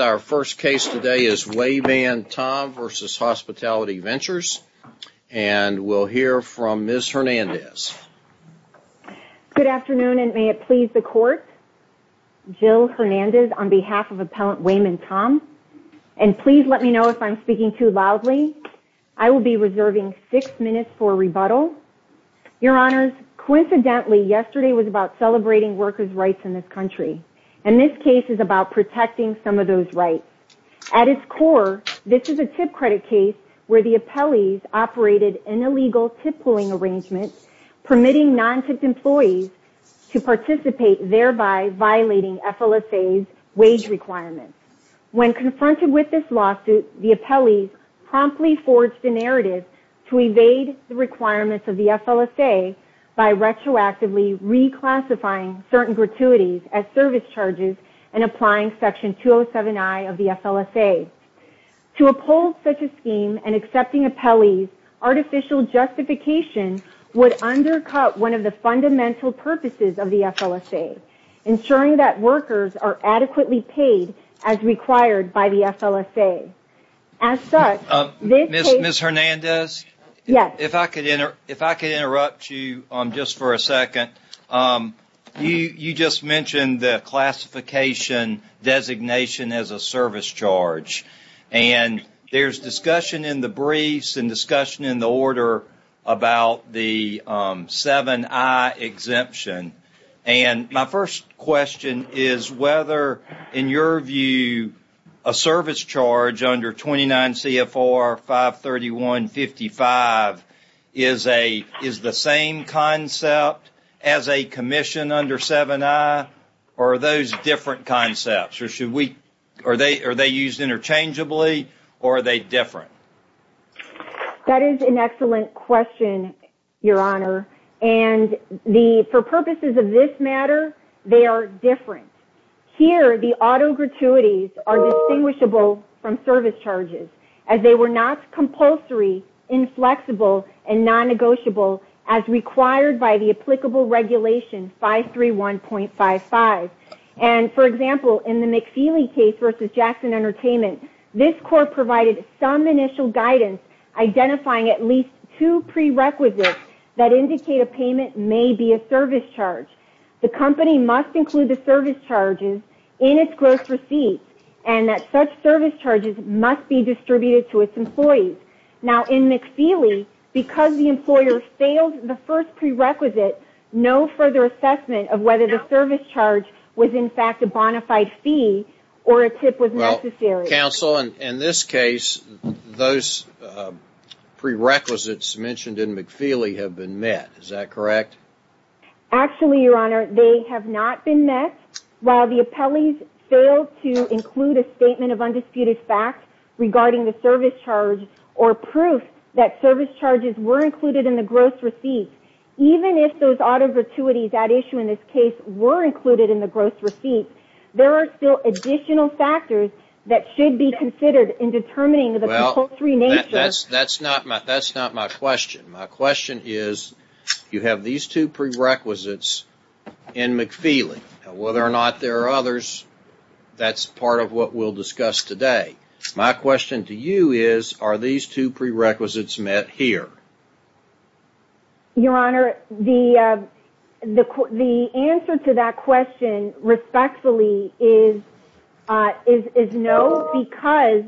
And our first case today is Wayman Tom v. Hospitality Ventures, and we'll hear from Ms. Hernandez. Good afternoon, and may it please the Court, Jill Hernandez on behalf of Appellant Wayman Tom, and please let me know if I'm speaking too loudly. I will be reserving six minutes for rebuttal. Your Honors, coincidentally, yesterday was about celebrating workers' rights in this country. And this case is about protecting some of those rights. At its core, this is a tip credit case where the appellees operated an illegal tip-pulling arrangement permitting non-tipped employees to participate, thereby violating FLSA's wage requirements. When confronted with this lawsuit, the appellees promptly forged a narrative to evade the requirements of the FLSA by retroactively reclassifying certain gratuities as service charges and applying Section 207I of the FLSA. To oppose such a scheme and accepting appellees, artificial justification would undercut one of the fundamental purposes of the FLSA, ensuring that workers are adequately paid as required by the FLSA. As such, this case... Ms. Hernandez? Yes. If I could interrupt you just for a second. You just mentioned the classification designation as a service charge. And there's discussion in the briefs and discussion in the order about the 7I exemption. And my first question is whether, in your view, a service charge under 29 CFR 531.55 is the same concept as a commission under 7I, or are those different concepts? Are they used interchangeably, or are they different? That is an excellent question, Your Honor. And for purposes of this matter, they are different. Here the auto gratuities are distinguishable from service charges, as they were not compulsory, inflexible, and non-negotiable as required by the applicable regulation 531.55. And for example, in the McFeely case versus Jackson Entertainment, this court provided some initial guidance identifying at least two prerequisites that indicate a payment may be a service charge. The company must include the service charges in its gross receipts, and that such service charges must be distributed to its employees. Now in McFeely, because the employer failed the first prerequisite, no further assessment of whether the service charge was, in fact, a bona fide fee or a tip was necessary. Counsel, in this case, those prerequisites mentioned in McFeely have been met, is that correct? Actually, Your Honor, they have not been met. While the appellees failed to include a statement of undisputed fact regarding the service charge or proof that service charges were included in the gross receipt, even if those auto gratuities at issue in this case were included in the gross receipt, there are still additional factors that should be considered in determining the compulsory nature. That's not my question. My question is, you have these two prerequisites in McFeely. Whether or not there are others, that's part of what we'll discuss today. My question to you is, are these two prerequisites met here? Your Honor, the answer to that question, respectfully, is no, because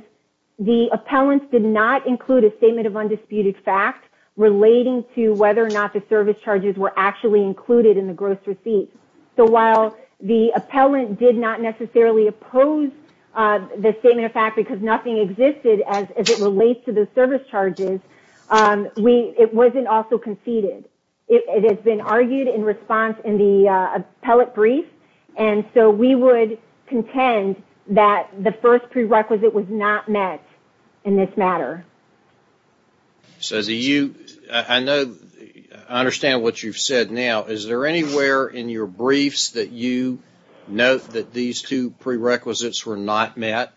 the appellants did not include a statement of undisputed fact relating to whether or not the service charges were actually included in the gross receipt. So while the appellant did not necessarily oppose the statement of fact because nothing existed as it relates to the service charges, it wasn't also conceded. It has been argued in response in the appellate brief, and so we would contend that the first prerequisite was not met in this matter. Cezie, I understand what you've said now. Is there anywhere in your briefs that you note that these two prerequisites were not met?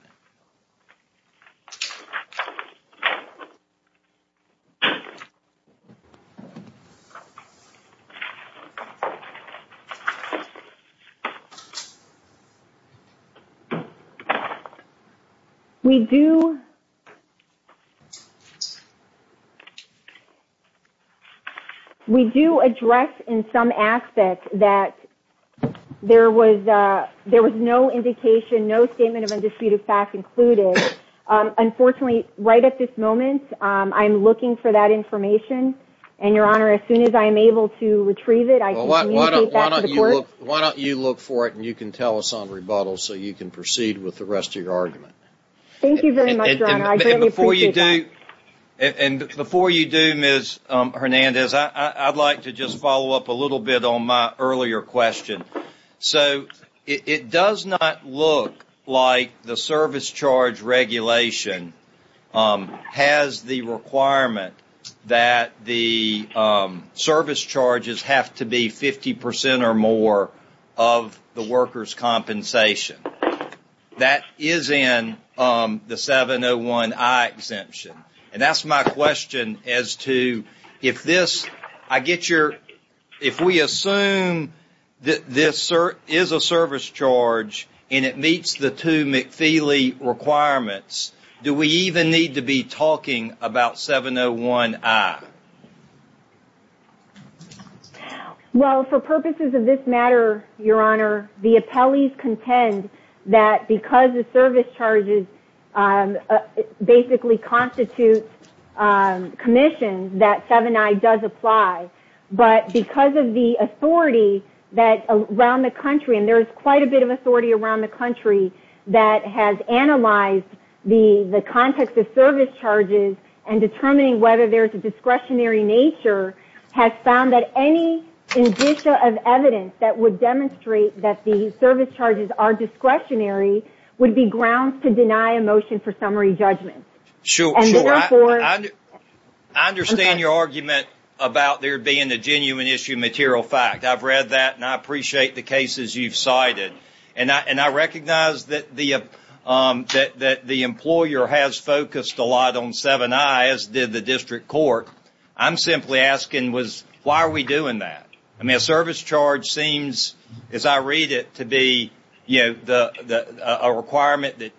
We do address in some aspects that there was no indication, no statement of undisputed fact included. Unfortunately, right at this moment, I'm looking for that information, and Your Honor, as soon as I am able to retrieve it, I can communicate that to the court. Why don't you look for it and you can tell us on rebuttal so you can proceed with the rest of your argument. Thank you very much, Your Honor. I greatly appreciate that. And before you do, Ms. Hernandez, I'd like to just follow up a little bit on my earlier question. So it does not look like the service charge regulation has the requirement that the service charges have to be 50 percent or more of the worker's compensation. That is in the 701I exemption. And that's my question as to if this, I get your, if we assume that this is a service charge and it meets the two McFeely requirements, do we even need to be talking about 701I? Well, for purposes of this matter, Your Honor, the appellees contend that because the service charges basically constitute commissions, that 701I does apply. But because of the authority that around the country, and there is quite a bit of authority around the country that has analyzed the context of service charges and determining whether there is a discretionary nature, has found that any indicia of evidence that would demonstrate that the service charges are discretionary would be grounds to deny a motion for summary judgment. Sure. Sure. I understand your argument about there being a genuine issue of material fact. I've read that and I appreciate the cases you've cited. And I recognize that the employer has focused a lot on 701I, as did the district court. I'm simply asking, why are we doing that? I mean, a service charge seems, as I read it, to be a requirement that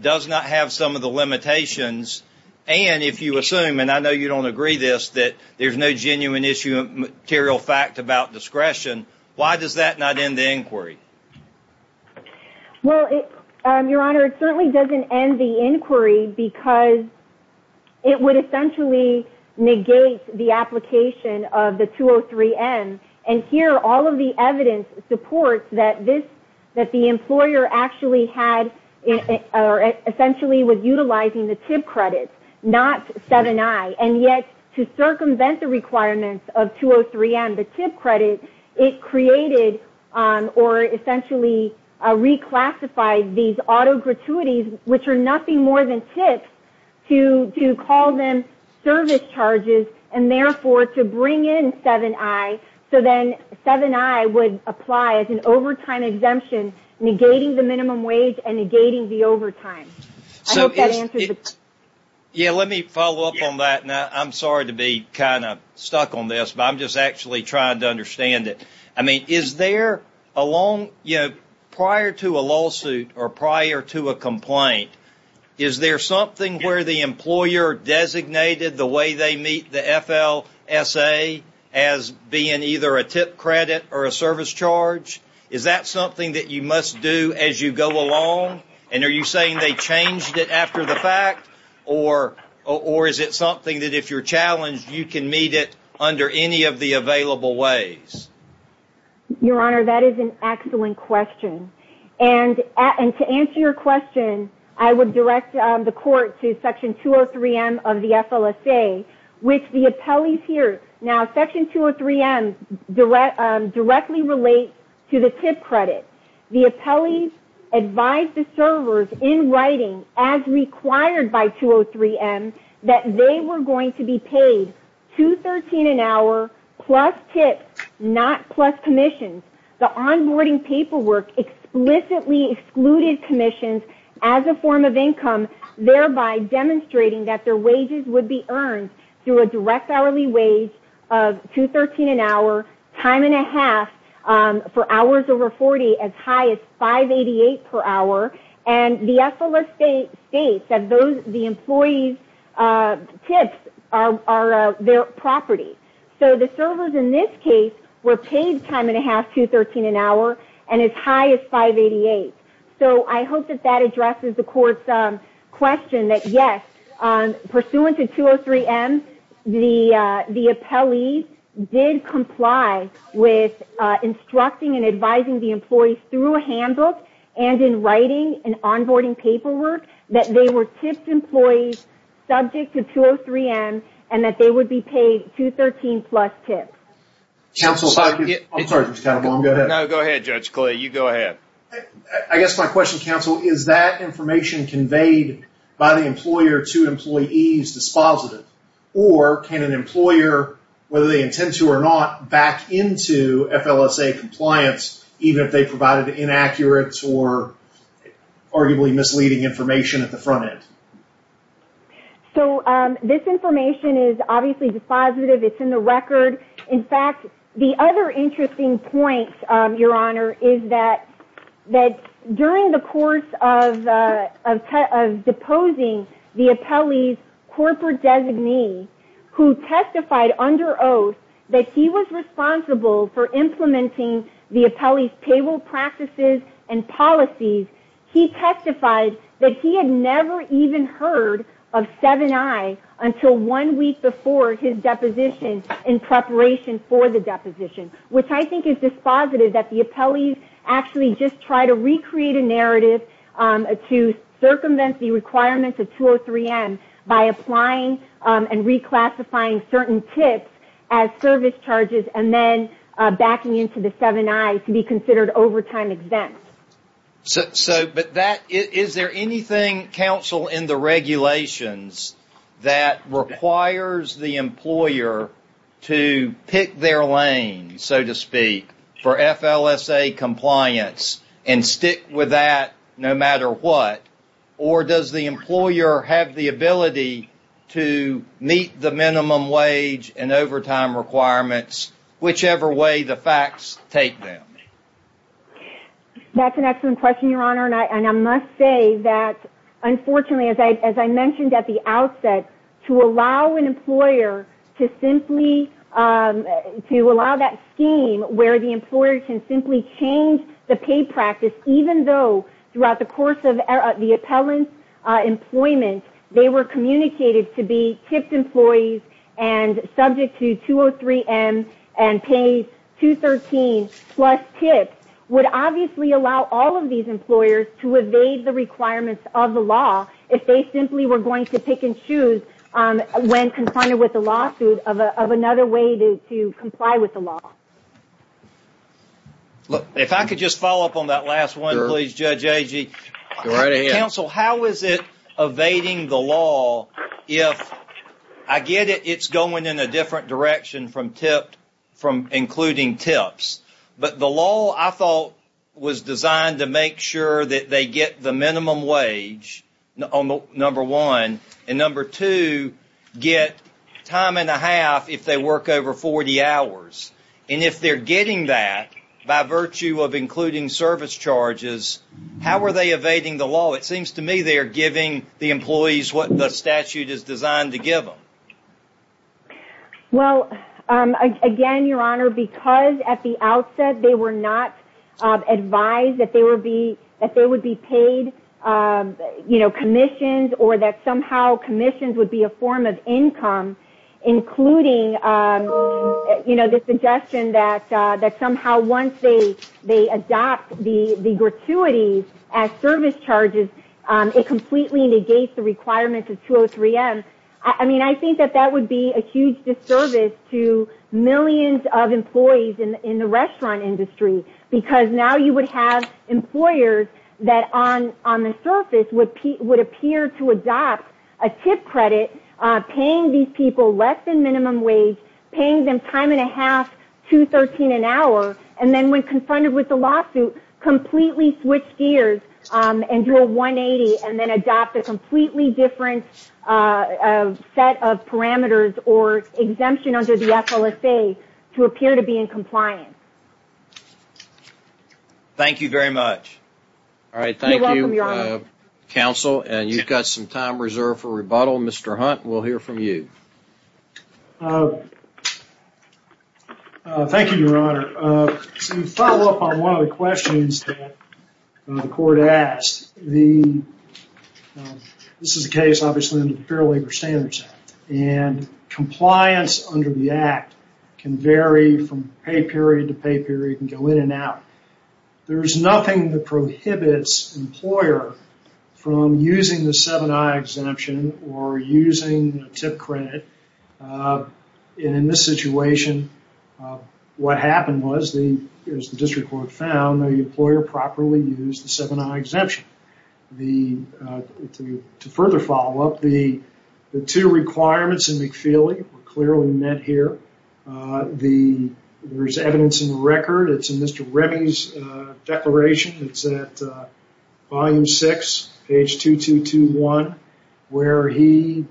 does not have some of the limitations. And if you assume, and I know you don't agree with this, that there is no genuine issue of material fact about discretion, why does that not end the inquiry? Well, Your Honor, it certainly doesn't end the inquiry because it would essentially negate the application of the 203M. And here, all of the evidence supports that the employer actually had, or essentially was utilizing the TIP credits, not 701I. And yet, to circumvent the requirements of 203M, the TIP credit, it created or essentially reclassified these auto gratuities, which are nothing more than TIPs, to call them service charges, and therefore, to bring in 701I, so then 701I would apply as an overtime exemption, negating the minimum wage and negating the overtime. I hope that answers the question. Yeah, let me follow up on that, and I'm sorry to be kind of stuck on this, but I'm just actually trying to understand it. I mean, is there a long, you know, prior to a lawsuit or prior to a complaint, is there something where the employer designated the way they meet the FLSA as being either a TIP credit or a service charge? Is that something that you must do as you go along? And are you saying they changed it after the fact? Or is it something that if you're challenged, you can meet it under any of the available ways? Your Honor, that is an excellent question. And to answer your question, I would direct the Court to Section 203M of the FLSA, which the appellees here, now Section 203M directly relates to the TIP credit. The appellees advised the servers in writing, as required by 203M, that they were going to be paid $213 an hour plus TIPs, not plus commissions. The onboarding paperwork explicitly excluded commissions as a form of income, thereby demonstrating that their wages would be earned through a direct hourly wage of $213 an hour, time and a half for hours over 40, as high as $588 per hour. And the FLSA states that the employees' TIPs are their property. So the servers in this case were paid time and a half, $213 an hour, and as high as $588. So I hope that that addresses the Court's question that yes, pursuant to 203M, the appellees did comply with instructing and advising the employees through a handbook and in writing and onboarding paperwork that they were TIP employees subject to 203M and that they would be paid $213 plus TIPs. Counsel, if I could... I'm sorry, Judge Calabon, go ahead. No, go ahead, Judge Clay. You go ahead. I guess my question, Counsel, is that information conveyed by the employer to employees dispositive? Or can an employer, whether they intend to or not, back into FLSA compliance even if they provided inaccurates or arguably misleading information at the front end? So this information is obviously dispositive. It's in the record. In fact, the other interesting point, Your Honor, is that during the course of deposing the appellee's corporate designee who testified under oath that he was responsible for implementing the appellee's payroll practices and policies, he testified that he had never even heard of 7i until one week before his deposition in preparation for the deposition, which I think is dispositive that the appellees actually just try to recreate a narrative to circumvent the requirements of 203M by applying and reclassifying certain TIPs as service charges and then deny to be considered overtime exempts. But is there anything, Counsel, in the regulations that requires the employer to pick their lane, so to speak, for FLSA compliance and stick with that no matter what? Or does the employer have the ability to meet the minimum wage and overtime requirements whichever way the facts take them? That's an excellent question, Your Honor, and I must say that unfortunately, as I mentioned at the outset, to allow an employer to simply, to allow that scheme where the employer can simply change the pay practice even though throughout the course of the appellant's they were communicated to be TIP employees and subject to 203M and pay 213 plus TIP would obviously allow all of these employers to evade the requirements of the law if they simply were going to pick and choose when confronted with a lawsuit of another way to comply with the law. Look, if I could just follow up on that last one, please, Judge Agee. Counsel, how is it evading the law if, I get it, it's going in a different direction from TIP, from including TIPs, but the law, I thought, was designed to make sure that they get the minimum wage, number one, and number two, get time and a half if they work over 40 hours. If they're getting that by virtue of including service charges, how are they evading the law? It seems to me they are giving the employees what the statute is designed to give them. Well, again, Your Honor, because at the outset they were not advised that they would be paid commissions or that somehow commissions would be a form of income, including the suggestion that somehow once they adopt the gratuities as service charges, it completely negates the requirements of 203M. I think that would be a huge disservice to millions of employees in the restaurant industry because now you would have employers that on the surface would appear to adopt a TIP credit, paying these people less than minimum wage, paying them time and a half, $213 an hour, and then when confronted with the lawsuit, completely switch gears and do a $180 and then adopt a completely different set of parameters or exemption under the FLSA to appear to be in compliance. You're welcome, Your Honor. Counsel, and you've got some time reserved for rebuttal. Mr. Hunt, we'll hear from you. Thank you, Your Honor. To follow up on one of the questions that the court asked, this is a case, obviously, in the Fair Labor Standards Act, and compliance under the act can vary from pay period to pay period. It can go in and out. There's nothing that prohibits an employer from using the 7i exemption or using a TIP credit, and in this situation, what happened was, as the district court found, the employer properly used the 7i exemption. To further follow up, the two requirements in McFeely were clearly met here. There's evidence in the record. It's in Mr. Remy's declaration. It's at volume 6, page 2221, where he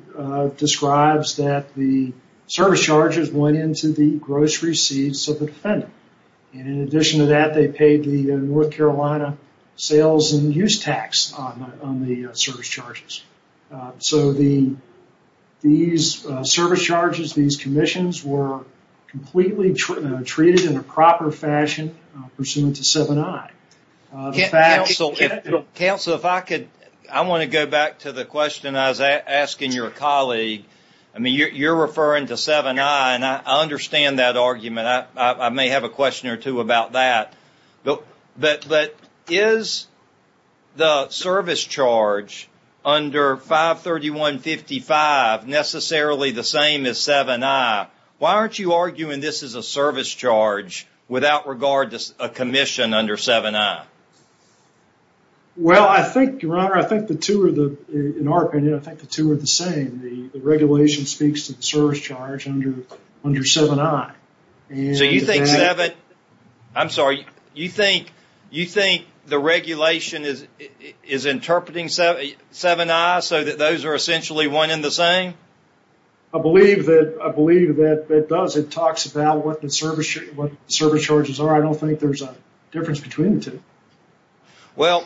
describes that the service charges went into the grocery seeds of the defendant, and in addition to that, they paid the North Carolina sales and use tax on the service charges. So these service charges, these commissions were completely treated in a proper fashion pursuant to 7i. Counsel, if I could, I want to go back to the question I was asking your colleague. I mean, you're referring to 7i, and I understand that argument. I may have a question or two about that. But is the service charge under 531.55 necessarily the same as 7i? Why aren't you arguing this is a service charge without regard to a commission under 7i? Well, I think, Your Honor, I think the two are the, in our opinion, I think the two are the same. The regulation speaks to the service charge under 7i. So you think 7, I'm sorry, you think the regulation is interpreting 7i so that those are essentially one and the same? I believe that it does. It talks about what the service charges are. I don't think there's a difference between the two. Well,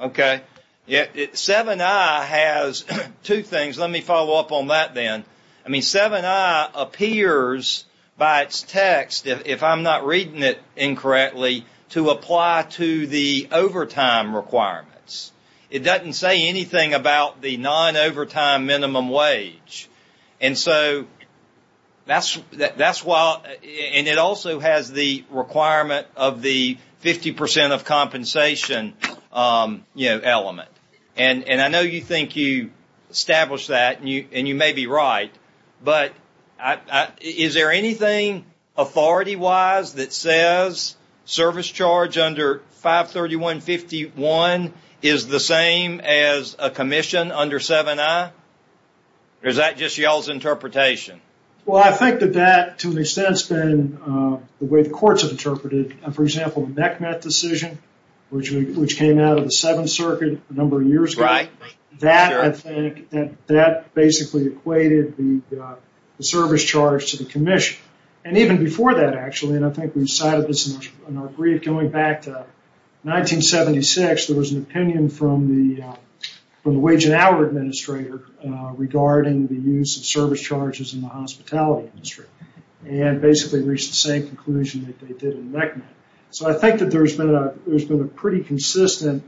okay. 7i has two things. Let me follow up on that then. I mean, 7i appears by its text, if I'm not reading it incorrectly, to apply to the overtime requirements. It doesn't say anything about the non-overtime minimum wage. And so that's why, and it also has the requirement of the 50 percent of compensation element. And I know you think you established that, and you may be right, but is there anything authority-wise that says service charge under 531.51 is the same as a commission under 7i? Or is that just y'all's interpretation? Well, I think that that, to an extent, has been the way the courts have interpreted it. For example, the MECMET decision, which came out of the Seventh Circuit a number of years ago, that, I think, basically equated the service charge to the commission. And even before that, actually, and I think we cited this in our brief going back to 1976, there was an opinion from the Wage and Hour Administrator regarding the use of service charges in the hospitality industry. And basically reached the same conclusion that they did in MECMET. So I think that there's been a pretty consistent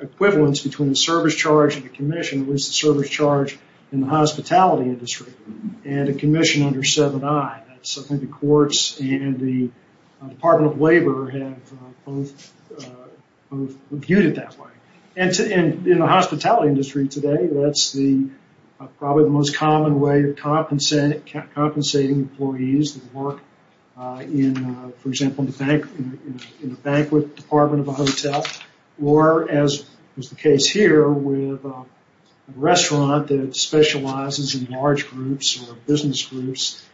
equivalence between the service charge and the commission was the service charge in the hospitality industry and a commission under 7i. And so I think the courts and the Department of Labor have both viewed it that way. And in the hospitality industry today, that's probably the most common way of compensating employees that work, for example, in the banquet department of a hotel. Or, as was the case here, with a restaurant that specializes in large groups or business groups.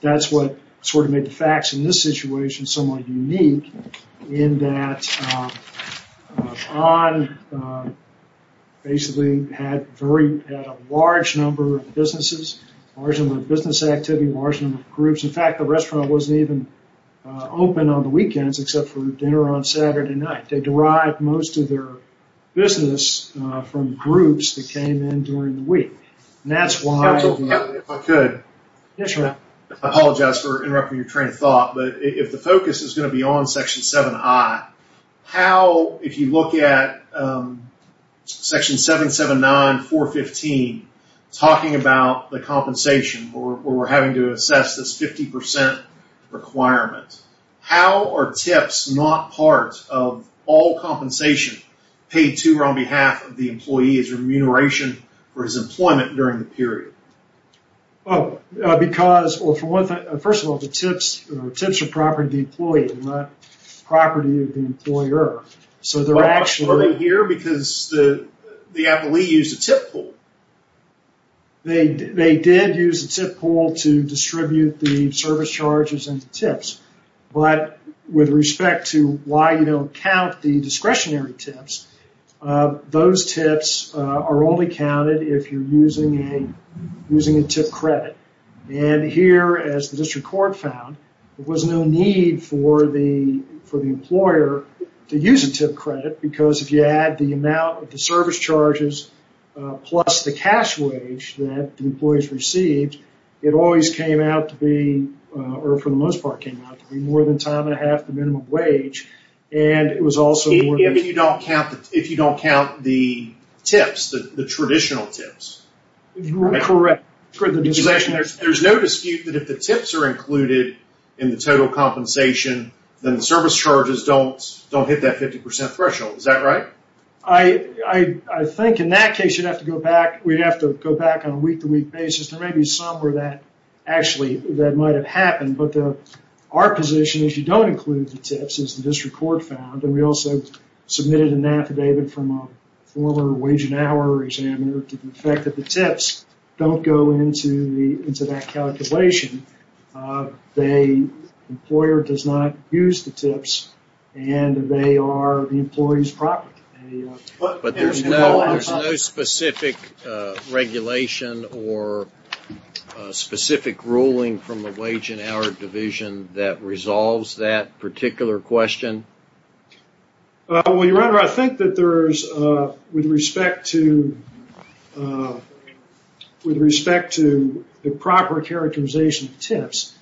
That's what sort of made the facts in this situation somewhat unique in that basically had a large number of businesses, large number of business activity, large number of groups. In fact, the restaurant wasn't even open on the weekends except for dinner on Saturday night. They derived most of their business from groups that came in during the week. That's why, if I could, I apologize for interrupting your train of thought. But if the focus is going to be on section 7i, how, if you look at section 779, 415, talking about the compensation where we're having to assess this 50% requirement, how are tips not part of all compensation paid to or on behalf of the employee's remuneration for his employment during the period? Oh, because, well, first of all, the tips are property of the employee and not property of the employer. Are they here because the appellee used a tip pool? They did use a tip pool to distribute the service charges and the tips. But with respect to why you don't count the discretionary tips, those tips are only counted if you're using a tip credit. And here, as the district court found, there was no need for the employer to use a tip credit because if you add the amount of the service charges plus the cash wage that the employees received, it always came out to be, or for the most part came out to be, more than time and a half the minimum wage. And it was also... Even if you don't count the tips, the traditional tips. You're correct for the discretionary tips. There's no dispute that if the tips are included in the total compensation, then the service charges don't hit that 50% threshold. Is that right? I think in that case, you'd have to go back. We'd have to go back on a week-to-week basis. There may be some where that actually might have happened. Our position is you don't include the tips, as the district court found. And we also submitted an affidavit from a former wage and hour examiner to the effect that the tips don't go into that calculation. The employer does not use the tips and they are the employee's property. But there's no specific regulation or specific ruling from the wage and hour division that resolves that particular question? Well, Your Honor, I think that there's, with respect to the proper characterization of any tips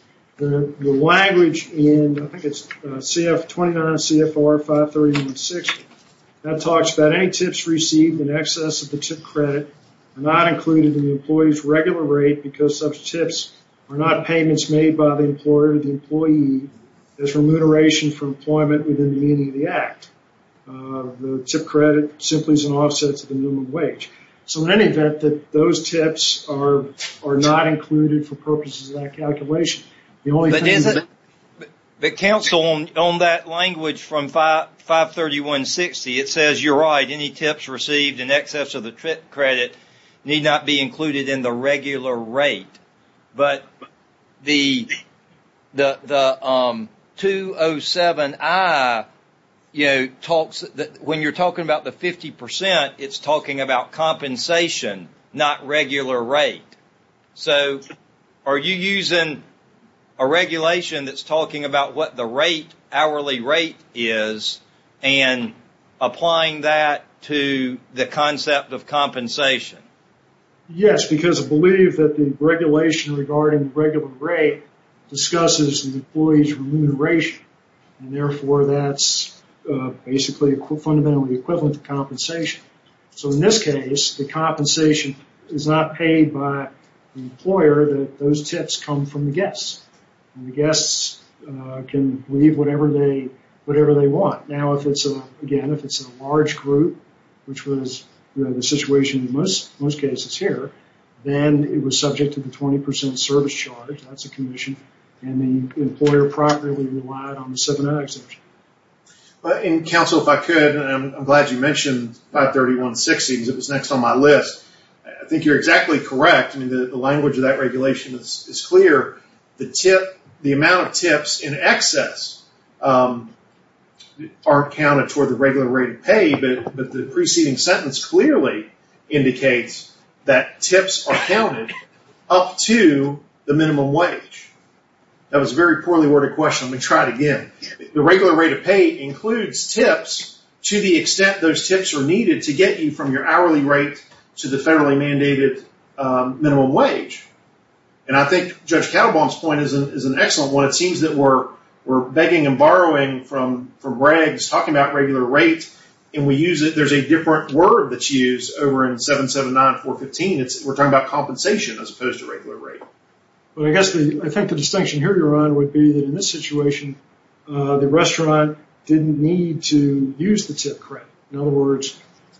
received in excess of the tip credit are not included in the employee's regular rate because such tips are not payments made by the employer to the employee as remuneration for employment within the meaning of the act. The tip credit simply is an offset to the minimum wage. So in any event, those tips are not included for purposes of that calculation. But counsel, on that language from 53160, it says you're right. Any tips received in excess of the credit need not be included in the regular rate. But the 207I, you know, when you're talking about the 50 percent, it's talking about compensation, not regular rate. So are you using a regulation that's talking about what the rate, hourly rate, is and applying that to the concept of compensation? Yes, because I believe that the regulation regarding the regular rate discusses the employee's remuneration and therefore that's basically fundamentally equivalent to compensation. So in this case, the compensation is not paid by the employer. Those tips come from the guests. The guests can leave whatever they want. Now, again, if it's a large group, which was the situation in most cases here, then it was subject to the 20 percent service charge. That's a commission and the employer properly relied on the 7I exemption. But counsel, if I could, I'm glad you mentioned 53160 because it was next on my list. I think you're exactly correct. I mean, the language of that regulation is clear. The amount of tips in excess are counted toward the regular rate of pay, but the preceding sentence clearly indicates that tips are counted up to the minimum wage. That was a very poorly worded question. Let me try it again. The regular rate of pay includes tips to the extent those tips are needed to get you from your hourly rate to the federally mandated minimum wage. And I think Judge Caldebaum's point is an excellent one. It seems that we're begging and borrowing from Braggs talking about regular rate and we use it. There's a different word that's used over in 779-415. We're talking about compensation as opposed to regular rate. But I think the distinction here, Your Honor, would be that in this situation, the restaurant didn't need to use the tip credit. In other words,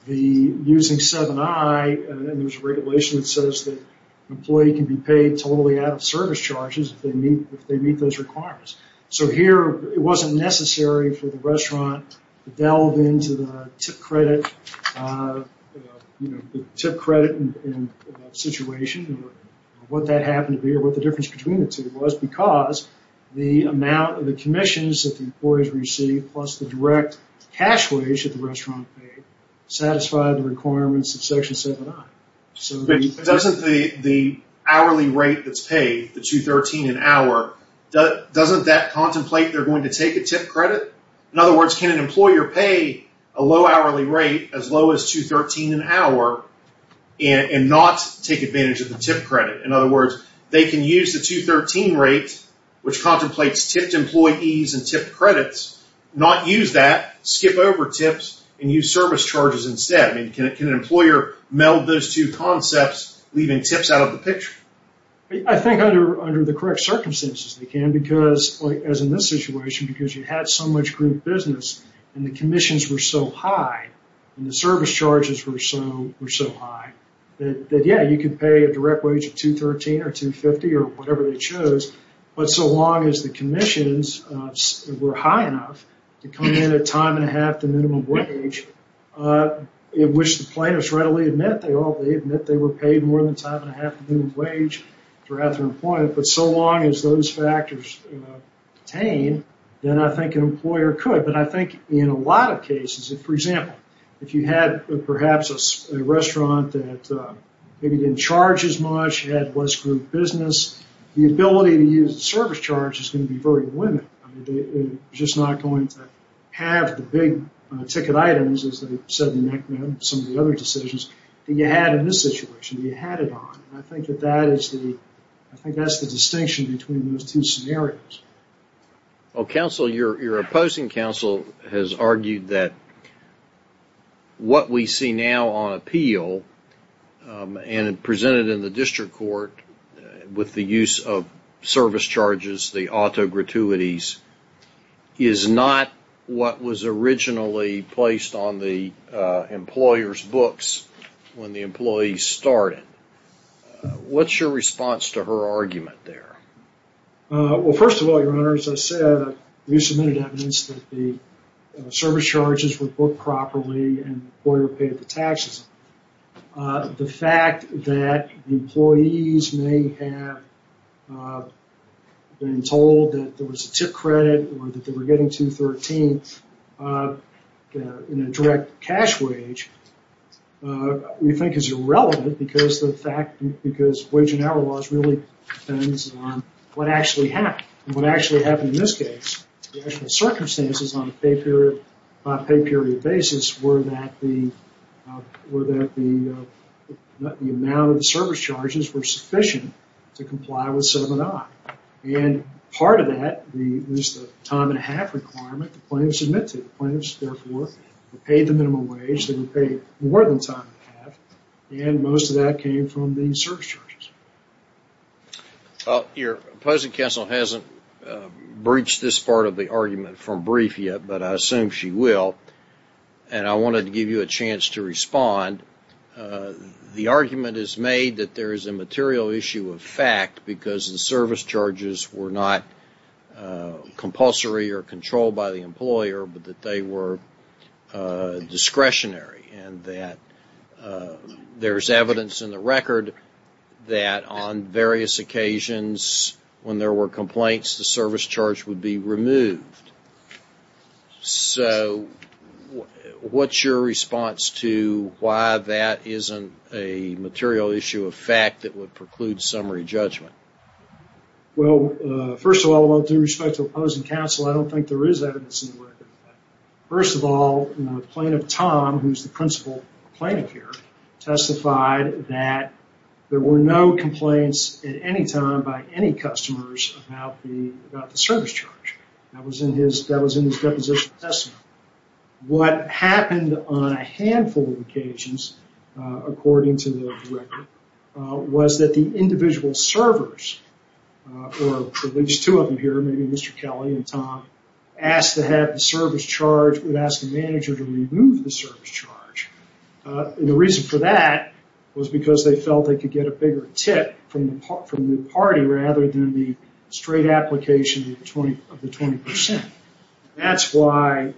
using 7I and there's a regulation that says that an employee can be paid totally out of service charges if they meet those requirements. So here, it wasn't necessary for the restaurant to delve into the tip credit and situation or what that happened to be or what the difference between the two was because the amount of the commissions that the employees received plus the direct cash wage that the restaurant paid satisfied the requirements of Section 7I. Doesn't the hourly rate that's paid, the 213 an hour, doesn't that contemplate they're going to take a tip credit? In other words, can an employer pay a low hourly rate as low as 213 an hour and not take advantage of the tip credit? In other words, they can use the 213 rate, which contemplates tipped employees and tipped credits, not use that, skip over tips, and use service charges instead. I mean, can an employer meld those two concepts, leaving tips out of the picture? I think under the correct circumstances, they can because, as in this situation, because you had so much group business and the commissions were so high and the service charges were so high that, yeah, you could pay a direct wage of 213 or 250 or whatever they chose, but so long as the commissions were high enough to come in at time and a half the minimum wage, which the plaintiffs readily admit they were paid more than time and a half the minimum wage throughout their employment, but so long as those factors pertain, then I think an employer could. I think in a lot of cases, for example, if you had perhaps a restaurant that maybe didn't charge as much, had less group business, the ability to use the service charge is going to be very limited. I mean, they're just not going to have the big ticket items, as they said in some of the other decisions that you had in this situation, that you had it on. I think that's the distinction between those two scenarios. Counsel, your opposing counsel has argued that what we see now on appeal and presented in the district court with the use of service charges, the auto gratuities, is not what was originally placed on the employer's books when the employees started. What's your response to her argument there? Well, first of all, Your Honor, as I said, we submitted evidence that the service charges were booked properly and the employer paid the taxes. The fact that the employees may have been told that there was a tip credit or that they were getting $213 in a direct cash wage, we think is irrelevant because wage and hour laws really depends on what actually happened. What actually happened in this case, the actual circumstances on a pay period basis were that the amount of the service charges were sufficient to comply with 7i. Part of that was the time and a half requirement the plaintiffs admitted. The plaintiffs, therefore, were paid the minimum wage. They were paid more than time and a half, and most of that came from the service charges. Well, your opposing counsel hasn't breached this part of the argument from brief yet, but I assume she will, and I wanted to give you a chance to respond. The argument is made that there is a material issue of fact because the service charges were not compulsory or controlled by the employer, but that they were discretionary and that there's evidence in the record that on various occasions when there were complaints, the service charge would be removed. What's your response to why that isn't a material issue of fact that would preclude summary judgment? Well, first of all, with respect to opposing counsel, I don't think there is evidence in plaintiff Tom, who's the principal plaintiff here, testified that there were no complaints at any time by any customers about the service charge. That was in his deposition testimony. What happened on a handful of occasions, according to the record, was that the individual servers, or at least two of them here, maybe Mr. Kelly and Tom, asked to have the service charge, would ask the manager to remove the service charge. The reason for that was because they felt they could get a bigger tip from the party, rather than the straight application of the 20%. That's why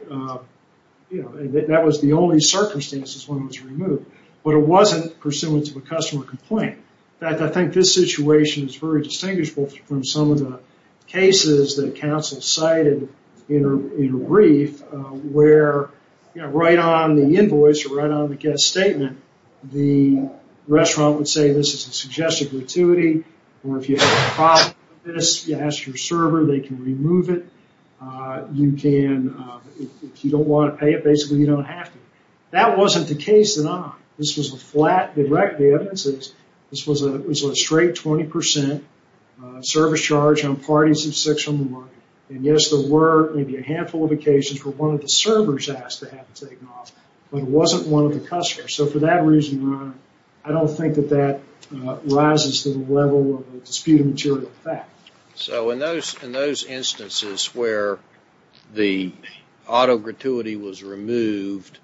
that was the only circumstances when it was removed, but it wasn't pursuant to a customer complaint. I think this situation is very distinguishable from some of the cases that counsel cited in a brief, where right on the invoice, or right on the guest statement, the restaurant would say, this is a suggested gratuity, or if you have a problem with this, you ask your server, they can remove it. You can, if you don't want to pay it, basically you don't have to. That wasn't the case at all. This was a flat directive. This was a straight 20% service charge on parties of six on the market. Yes, there were maybe a handful of occasions where one of the servers asked to have it taken off, but it wasn't one of the customers. For that reason, Ron, I don't think that that rises to the level of a disputed material fact. So in those instances where the auto gratuity was removed,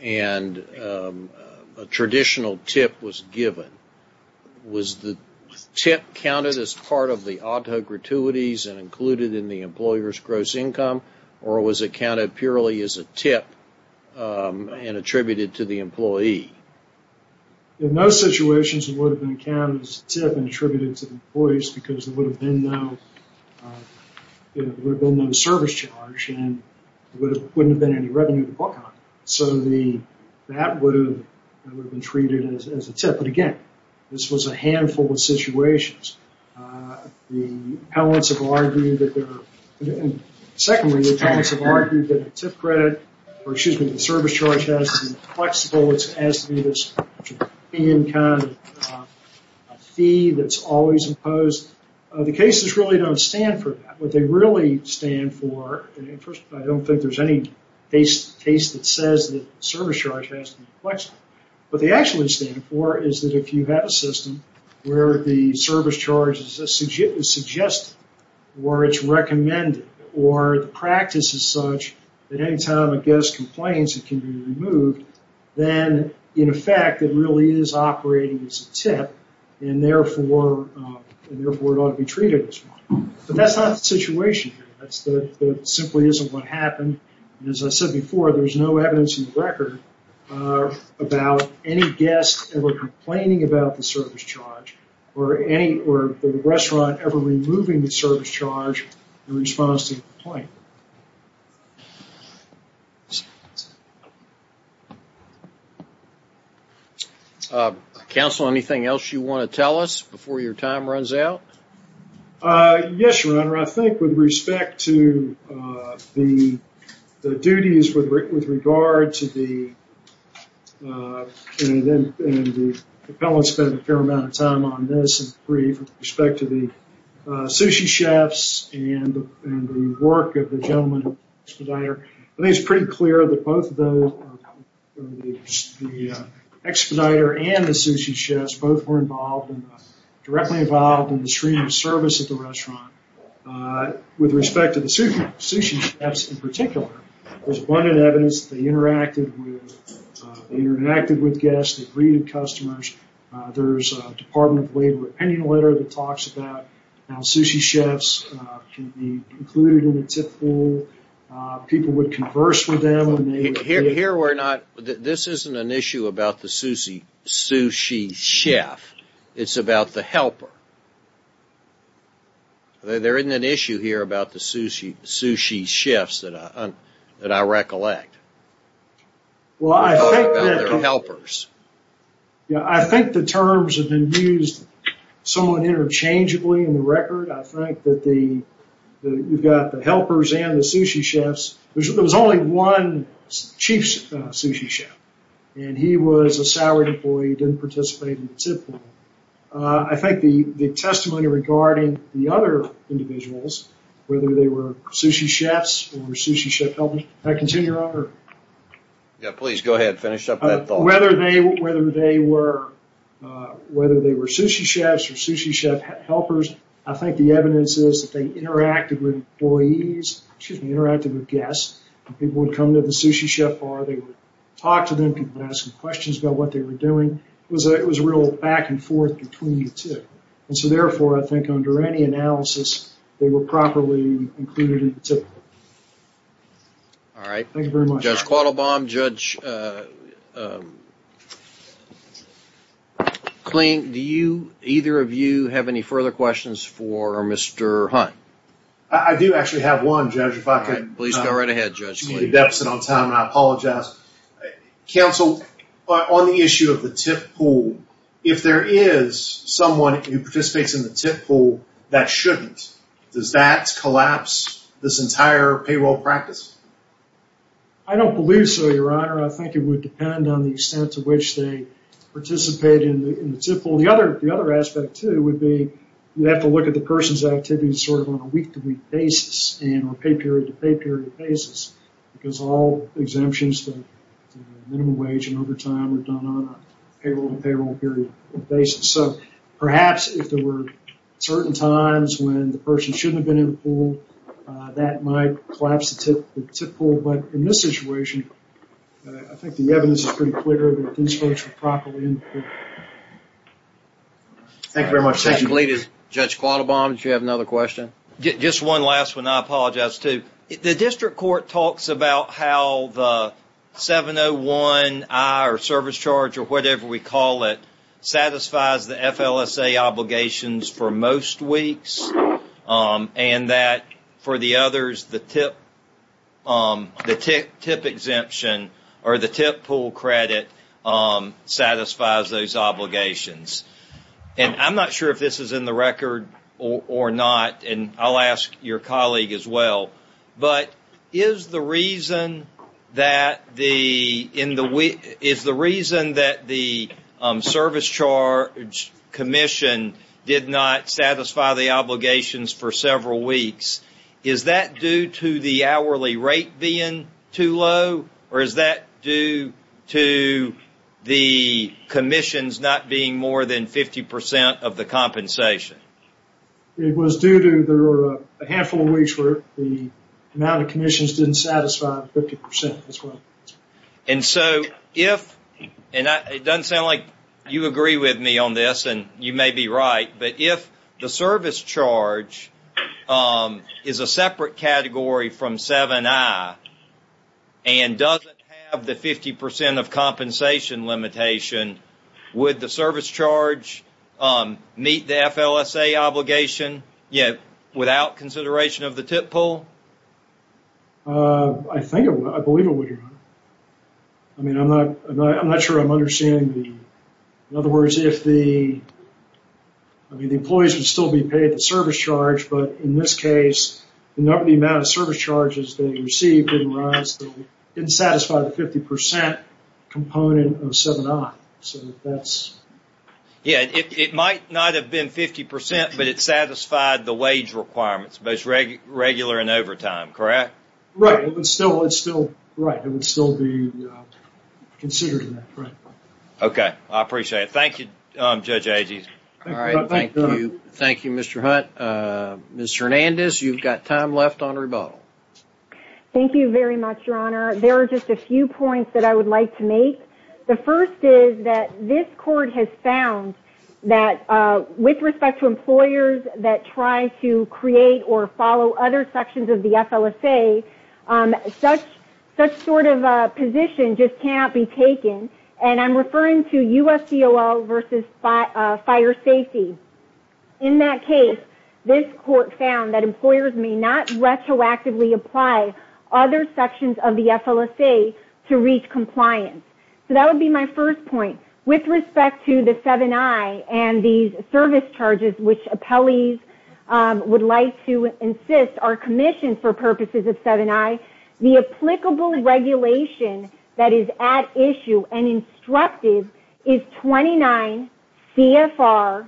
and a traditional tip was given, was the tip counted as part of the auto gratuities and included in the employer's gross income, or was it counted purely as a tip and attributed to the employee? In those situations, it would have been counted as a tip and attributed to the employees because there would have been no service charge, and there wouldn't have been any revenue to book on. So that would have been treated as a tip. But again, this was a handful of situations. The appellants have argued that they're... Secondly, the appellants have argued that a tip credit, or excuse me, the service charge has to be flexible. It has to be this fee that's always imposed. The cases really don't stand for that. What they really stand for, and first, I don't think there's any case that says that service charge has to be flexible. What they actually stand for is that if you have a system where the service charge is suggested, or it's recommended, or the practice is such that any time a guest complains, it can be removed, then in effect, it really is operating as a tip, and therefore, it ought to be treated as one. But that's not the situation here. That simply isn't what happened. As I said before, there's no evidence in the record about any guest ever complaining about the service charge, or the restaurant ever removing the service charge in response to the complaint. Counsel, anything else you want to tell us before your time runs out? Yes, Your Honor. I think with respect to the duties with regard to the... and the appellant spent a fair amount of time on this, in brief, with respect to the sushi chefs and the work of the gentleman at Expeditor. I think it's pretty clear that both of those, the Expeditor and the sushi chefs, both were directly involved in the stream of service at the restaurant. With respect to the sushi chefs in particular, there's abundant evidence that they interacted with guests, they greeted customers. There's a Department of Labor opinion letter that talks about how sushi chefs can be included in the tip pool. People would converse with them. Here we're not... this isn't an issue about the sushi chef. It's about the helper. There isn't an issue here about the sushi chefs that I recollect. Well, I think that... About their helpers. I think the terms have been used somewhat interchangeably in the record. I think that you've got the helpers and the sushi chefs. There was only one chief sushi chef, and he was a salaried employee, didn't participate in the tip pool. I think the testimony regarding the other individuals, whether they were sushi chefs or sushi chef helpers... Can I continue, Your Honor? Yeah, please go ahead. Finish up that thought. Whether they were sushi chefs or sushi chef helpers, I think the evidence is that they interacted with guests. People would come to the sushi chef bar. They would talk to them. People would ask them questions about what they were doing. It was a real back and forth between the two. Therefore, I think under any analysis, they were properly included in the tip pool. All right. Thank you very much. Judge Quattlebaum, Judge Kling, do either of you have any further questions for Mr. Hunt? I do actually have one, Judge, if I could- Please go right ahead, Judge Kling.... take a deficit on time, and I apologize. Counsel, on the issue of the tip pool, if there is someone who participates in the tip pool that shouldn't, does that collapse this entire payroll practice? I don't believe so, Your Honor. I think it would depend on the extent to which they participate in the tip pool. The other aspect, too, would be you have to look at the person's activities on a week-to-week basis, or pay period-to-pay period basis, because all exemptions to minimum wage and overtime are done on a payroll-to-payroll period basis. Perhaps if there were certain times when the person shouldn't have been in the pool, that might collapse the tip pool. But in this situation, I think the evidence is pretty clear that these folks were properly Thank you very much. That's completed. Judge Quattlebaum, did you have another question? Just one last one. I apologize, too. The district court talks about how the 701I, or service charge, or whatever we call it, satisfies the FLSA obligations for most weeks, and that for the others, the tip exemption, or the tip pool credit, satisfies those obligations. I'm not sure if this is in the record or not, and I'll ask your colleague as well, but is the reason that the service charge commission did not satisfy the obligations for several weeks, is that due to the hourly rate being too low? Or is that due to the commissions not being more than 50 percent of the compensation? It was due to there were a handful of weeks where the amount of commissions didn't satisfy 50 percent as well. And so if, and it doesn't sound like you agree with me on this, and you may be right, but if the service charge is a separate category from 701I, and doesn't have the 50 percent of compensation limitation, would the service charge meet the FLSA obligation without consideration of the tip pool? I think it would. I believe it would, Your Honor. I mean, I'm not sure I'm understanding the... In other words, if the, I mean, the employees would still be paid the service charge, but in this case, the number, the amount of service charges they received didn't rise, didn't satisfy the 50 percent component of 701I, so that's... Yeah, it might not have been 50 percent, but it satisfied the wage requirements, both regular and overtime, correct? Right, it would still, it's still, right, it would still be considered in that, right. Okay, I appreciate it. Thank you, Judge Agee. All right, thank you. Thank you, Mr. Hunt. Ms. Hernandez, you've got time left on rebuttal. Thank you very much, Your Honor. There are just a few points that I would like to make. The first is that this court has found that with respect to employers that try to create or follow other sections of the FLSA, such sort of a position just cannot be taken, and I'm referring to USDOL versus fire safety. In that case, this court found that employers may not retroactively apply other sections of the FLSA to reach compliance, so that would be my first point. With respect to the 701I and these service charges, which appellees would like to insist are commissioned for purposes of 701I, the applicable regulation that is at issue and instructed is 29 CFR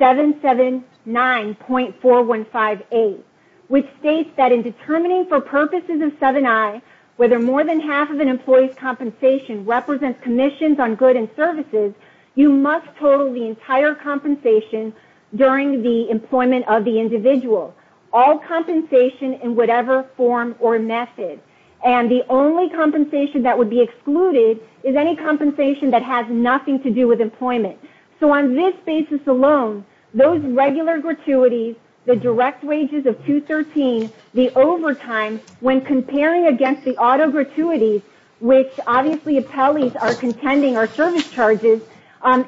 779.4158, which states that in determining for purposes of 701I, whether more than half of an employee's compensation represents commissions on good and services, you must total the entire compensation during the employment of the individual, all compensation in whatever form or method, and the only compensation that would be excluded is any compensation that has nothing to do with employment. So on this basis alone, those regular gratuities, the direct wages of 213, the overtime, when comparing against the autogratuities, which obviously appellees are contending are service charges,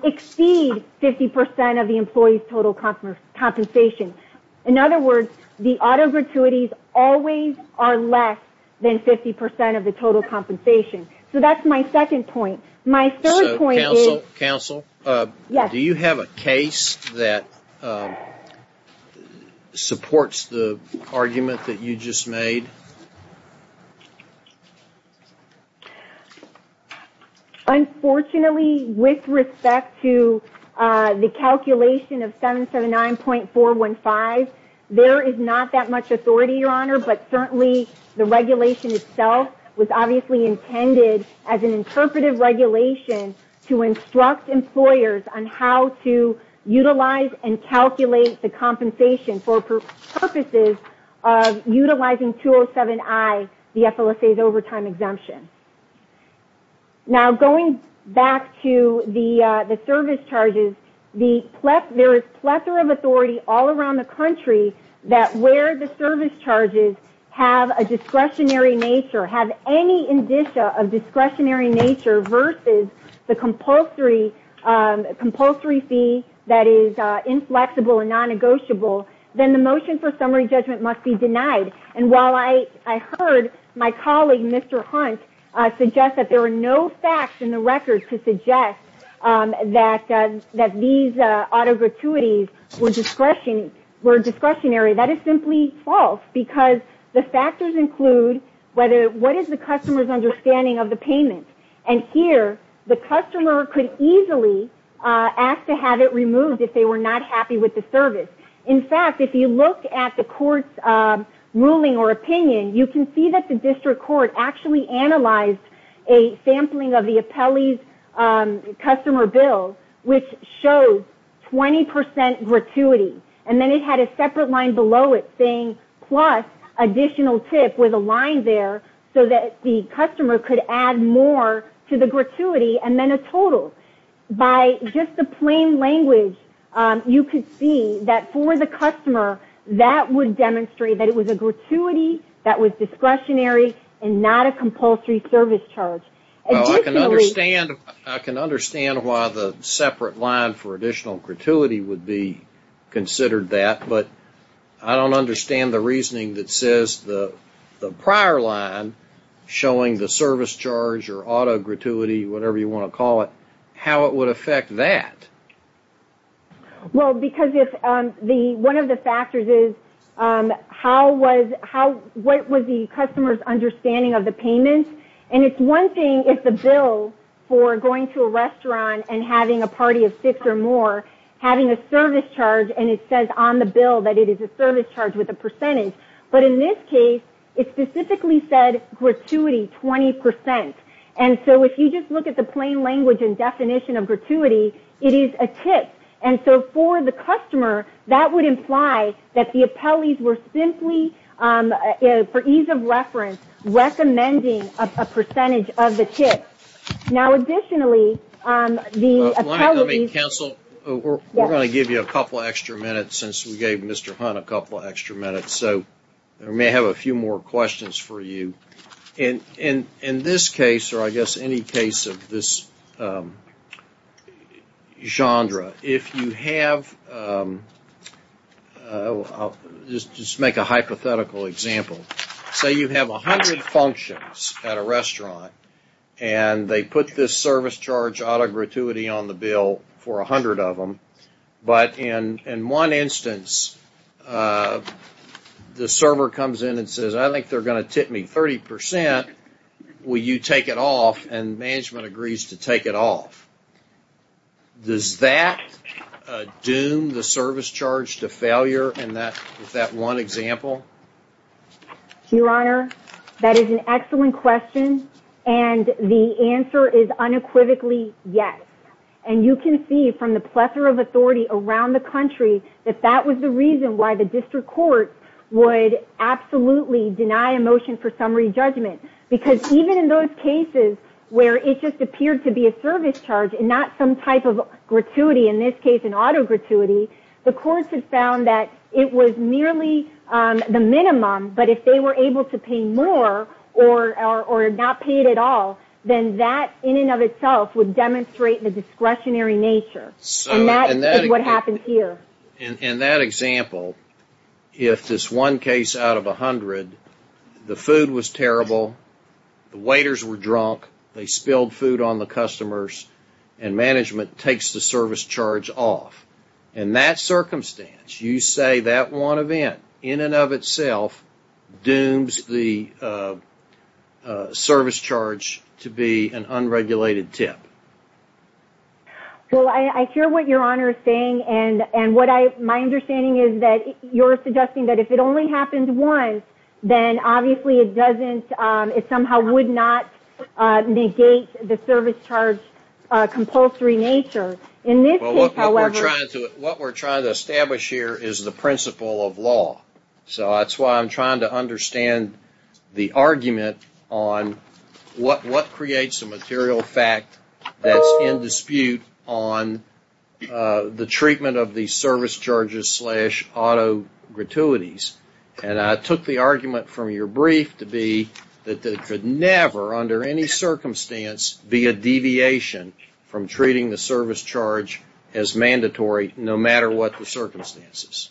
exceed 50% of the employee's total compensation. In other words, the autogratuities always are less than 50% of the total compensation. So that's my second point. My third point is... Counsel, do you have a case that supports the argument that you just made? Unfortunately, with respect to the calculation of 779.415, there is not that much authority, but certainly the regulation itself was obviously intended as an interpretive regulation to instruct employers on how to utilize and calculate the compensation for purposes of utilizing 207I, the FLSA's overtime exemption. Now, going back to the service charges, there is plethora of authority all around the country that where the service charges have a discretionary nature, have any indicia of discretionary nature versus the compulsory fee that is inflexible and non-negotiable, then the motion for summary judgment must be denied. And while I heard my colleague, Mr. Hunt, suggest that there were no facts in the record to suggest that these autogratuities were discretionary, that is simply false because the factors include what is the customer's understanding of the payment. And here, the customer could easily ask to have it removed if they were not happy with the service. In fact, if you look at the court's ruling or opinion, you can see that the district court actually analyzed a sampling of the appellee's customer bill, which shows 20% gratuity. And then it had a separate line below it saying plus additional tip with a line there so that the customer could add more to the gratuity and then a total. By just the plain language, you could see that for the customer, that would demonstrate that it was a gratuity that was discretionary and not a compulsory service charge. Well, I can understand why the separate line for additional gratuity would be considered that, but I don't understand the reasoning that says the prior line showing the service charge or autogratuity, whatever you want to call it, how it would affect that. Well, because one of the factors is what was the customer's understanding of the payment. And it's one thing if the bill for going to a restaurant and having a party of six or more having a service charge and it says on the bill that it is a service charge with a percentage. But in this case, it specifically said gratuity 20%. And so if you just look at the plain language and definition of gratuity, it is a tip. And so for the customer, that would imply that the appellees were simply, for ease of reference, recommending a percentage of the tip. Now, additionally, the appellees... Counsel, we're going to give you a couple of extra minutes since we gave Mr. Hunt a couple of extra minutes. So we may have a few more questions for you. In this case, or I guess any case of this genre, if you have... Just make a hypothetical example. Say you have 100 functions at a restaurant and they put this service charge autogratuity on the bill for 100 of them. But in one instance, the server comes in and says, I think they're going to tip me 30%. Will you take it off? And management agrees to take it off. Does that doom the service charge to failure in that one example? Your Honor, that is an excellent question. And the answer is unequivocally yes. And you can see from the plethora of authority around the country that that was the reason why the district court would absolutely deny a motion for summary judgment. Because even in those cases where it just appeared to be a service charge and not some type of gratuity, in this case an autogratuity, the courts had found that it was merely the minimum. But if they were able to pay more or not pay it at all, then that in and of itself would demonstrate the discretionary nature. And that is what happened here. In that example, if this one case out of 100, the food was terrible, the waiters were drunk, they spilled food on the customers, and management takes the service charge off. In that circumstance, you say that one event in and of itself dooms the service charge to be an unregulated tip? Well, I hear what Your Honor is saying, and my understanding is that you're suggesting that if it only happens once, then obviously it somehow would not negate the service charge compulsory nature. Well, what we're trying to establish here is the principle of law. So that's why I'm trying to understand the argument on what creates a material fact that's in dispute on the treatment of the service charges slash autogratuities. And I took the argument from your brief to be that it could never, under any circumstance, be a deviation from treating the service charge as mandatory no matter what the circumstances.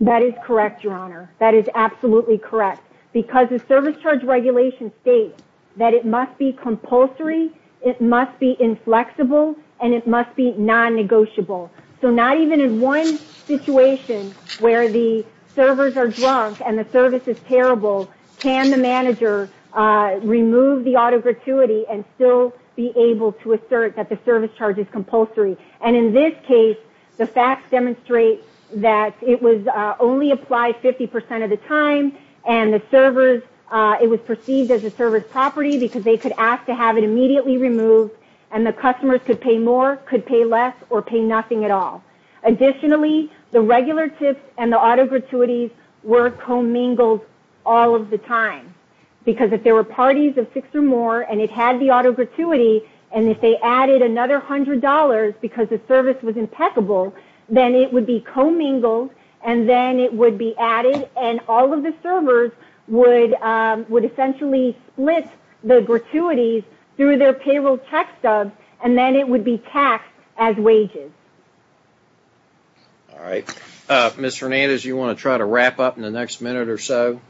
That is correct, Your Honor. That is absolutely correct. Because the service charge regulation states that it must be compulsory, it must be inflexible, and it must be non-negotiable. So not even in one situation where the servers are drunk and the service is terrible, can the manager remove the autogratuity and still be able to assert that the service charge is compulsory? And in this case, the facts demonstrate that it was only applied 50% of the time, and it was perceived as a service property because they could ask to have it immediately removed, and the customers could pay more, could pay less, or pay nothing at all. Additionally, the regular tips and the autogratuities were commingled all of the time. Because if there were parties of six or more, and it had the autogratuity, and if they added another $100 because the service was impeccable, then it would be commingled, and then it would be added, and all of the servers would essentially split the gratuities through their payroll check stubs, and then it would be taxed as wages. All right. Ms. Hernandez, do you want to try to wrap up in the next minute or so?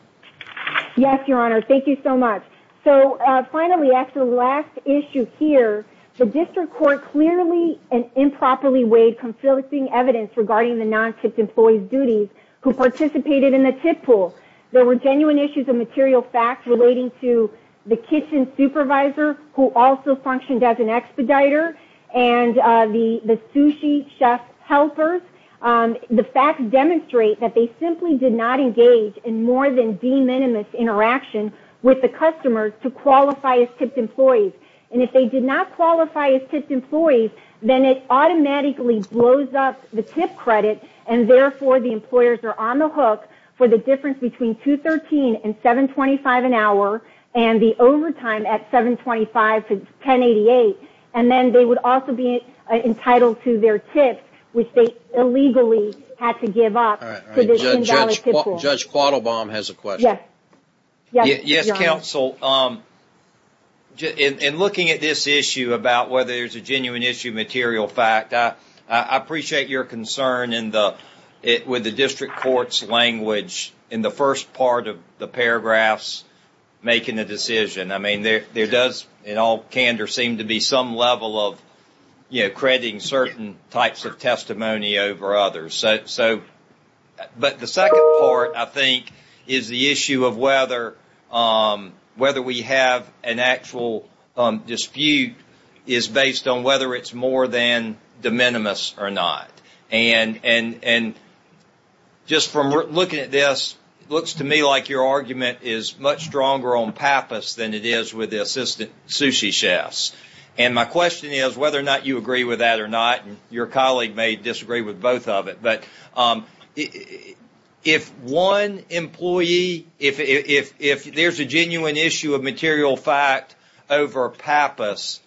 Yes, Your Honor. Thank you so much. So finally, after the last issue here, the district court clearly and improperly weighed conflicting evidence regarding the non-tipped employees' duties who participated in the tip pool. There were genuine issues of material facts relating to the kitchen supervisor who also functioned as an expediter, and the sushi chef helpers. The facts demonstrate that they simply did not engage in more than de minimis interaction with the customers to qualify as tipped employees. And if they did not qualify as tipped employees, then it automatically blows up the tip credit, and therefore the employers are on the hook for the difference between $213 and $725 an hour, and the overtime at $725 to $1088, and then they would also be entitled to their tips, which they illegally had to give up to the $10 tip pool. Judge Quattlebaum has a question. Yes, Your Honor. Counsel, in looking at this issue about whether there's a genuine issue of material fact, I appreciate your concern with the district court's language in the first part of the paragraphs making the decision. I mean, there does, in all candor, seem to be some level of, you know, crediting certain types of testimony over others. So, but the second part, I think, is the issue of whether we have an actual dispute is based on whether it's more than de minimis or not. And just from looking at this, it looks to me like your argument is much stronger on PAPAS than it is with the assistant sushi chefs. And my question is whether or not you agree with that or not, and your colleague may disagree with both of it, but if one employee, if there's a genuine issue of material fact over PAPAS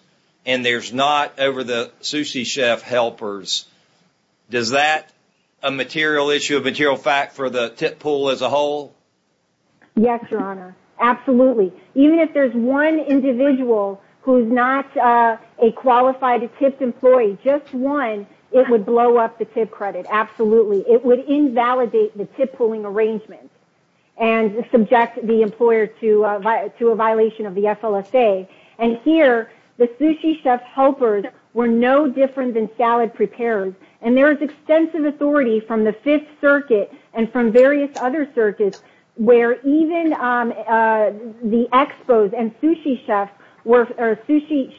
and there's not over the sushi chef helpers, does that a material issue of material fact for the tip pool as a whole? Yes, Your Honor. Absolutely. Even if there's one individual who's not a qualified, a tipped employee, just one, it would blow up the tip credit. Absolutely. It would invalidate the tip pooling arrangement and subject the employer to a violation of the FLSA. And here, the sushi chef helpers were no different than salad preparers. And there is extensive authority from the Fifth Circuit and from various other circuits where even the expo's and sushi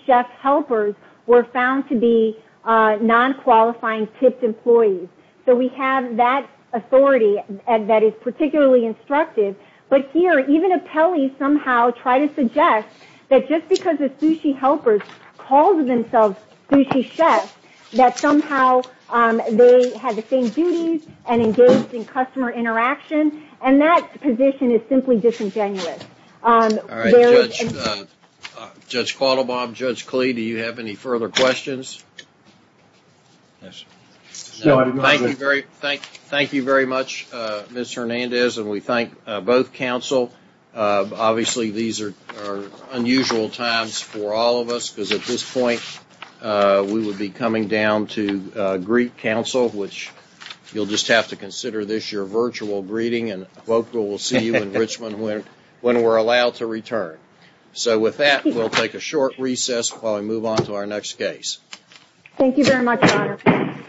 chef helpers were found to be non-qualifying tipped employees. So we have that authority that is particularly instructive. But here, even Apelli somehow tried to suggest that just because the sushi helpers called themselves sushi chefs, that somehow they had the same duties and engaged in customer interaction. And that position is simply disingenuous. All right, Judge Quattlebaum, Judge Klee, do you have any further questions? Yes. Thank you very much, Ms. Hernandez, and we thank both counsel. Obviously, these are unusual times for all of us because at this point, we would be coming down to greet counsel, which you'll just have to consider this your virtual greeting and we'll see you in Richmond when we're allowed to return. So with that, we'll take a short recess while we move on to our next case. Thank you very much, Your Honor.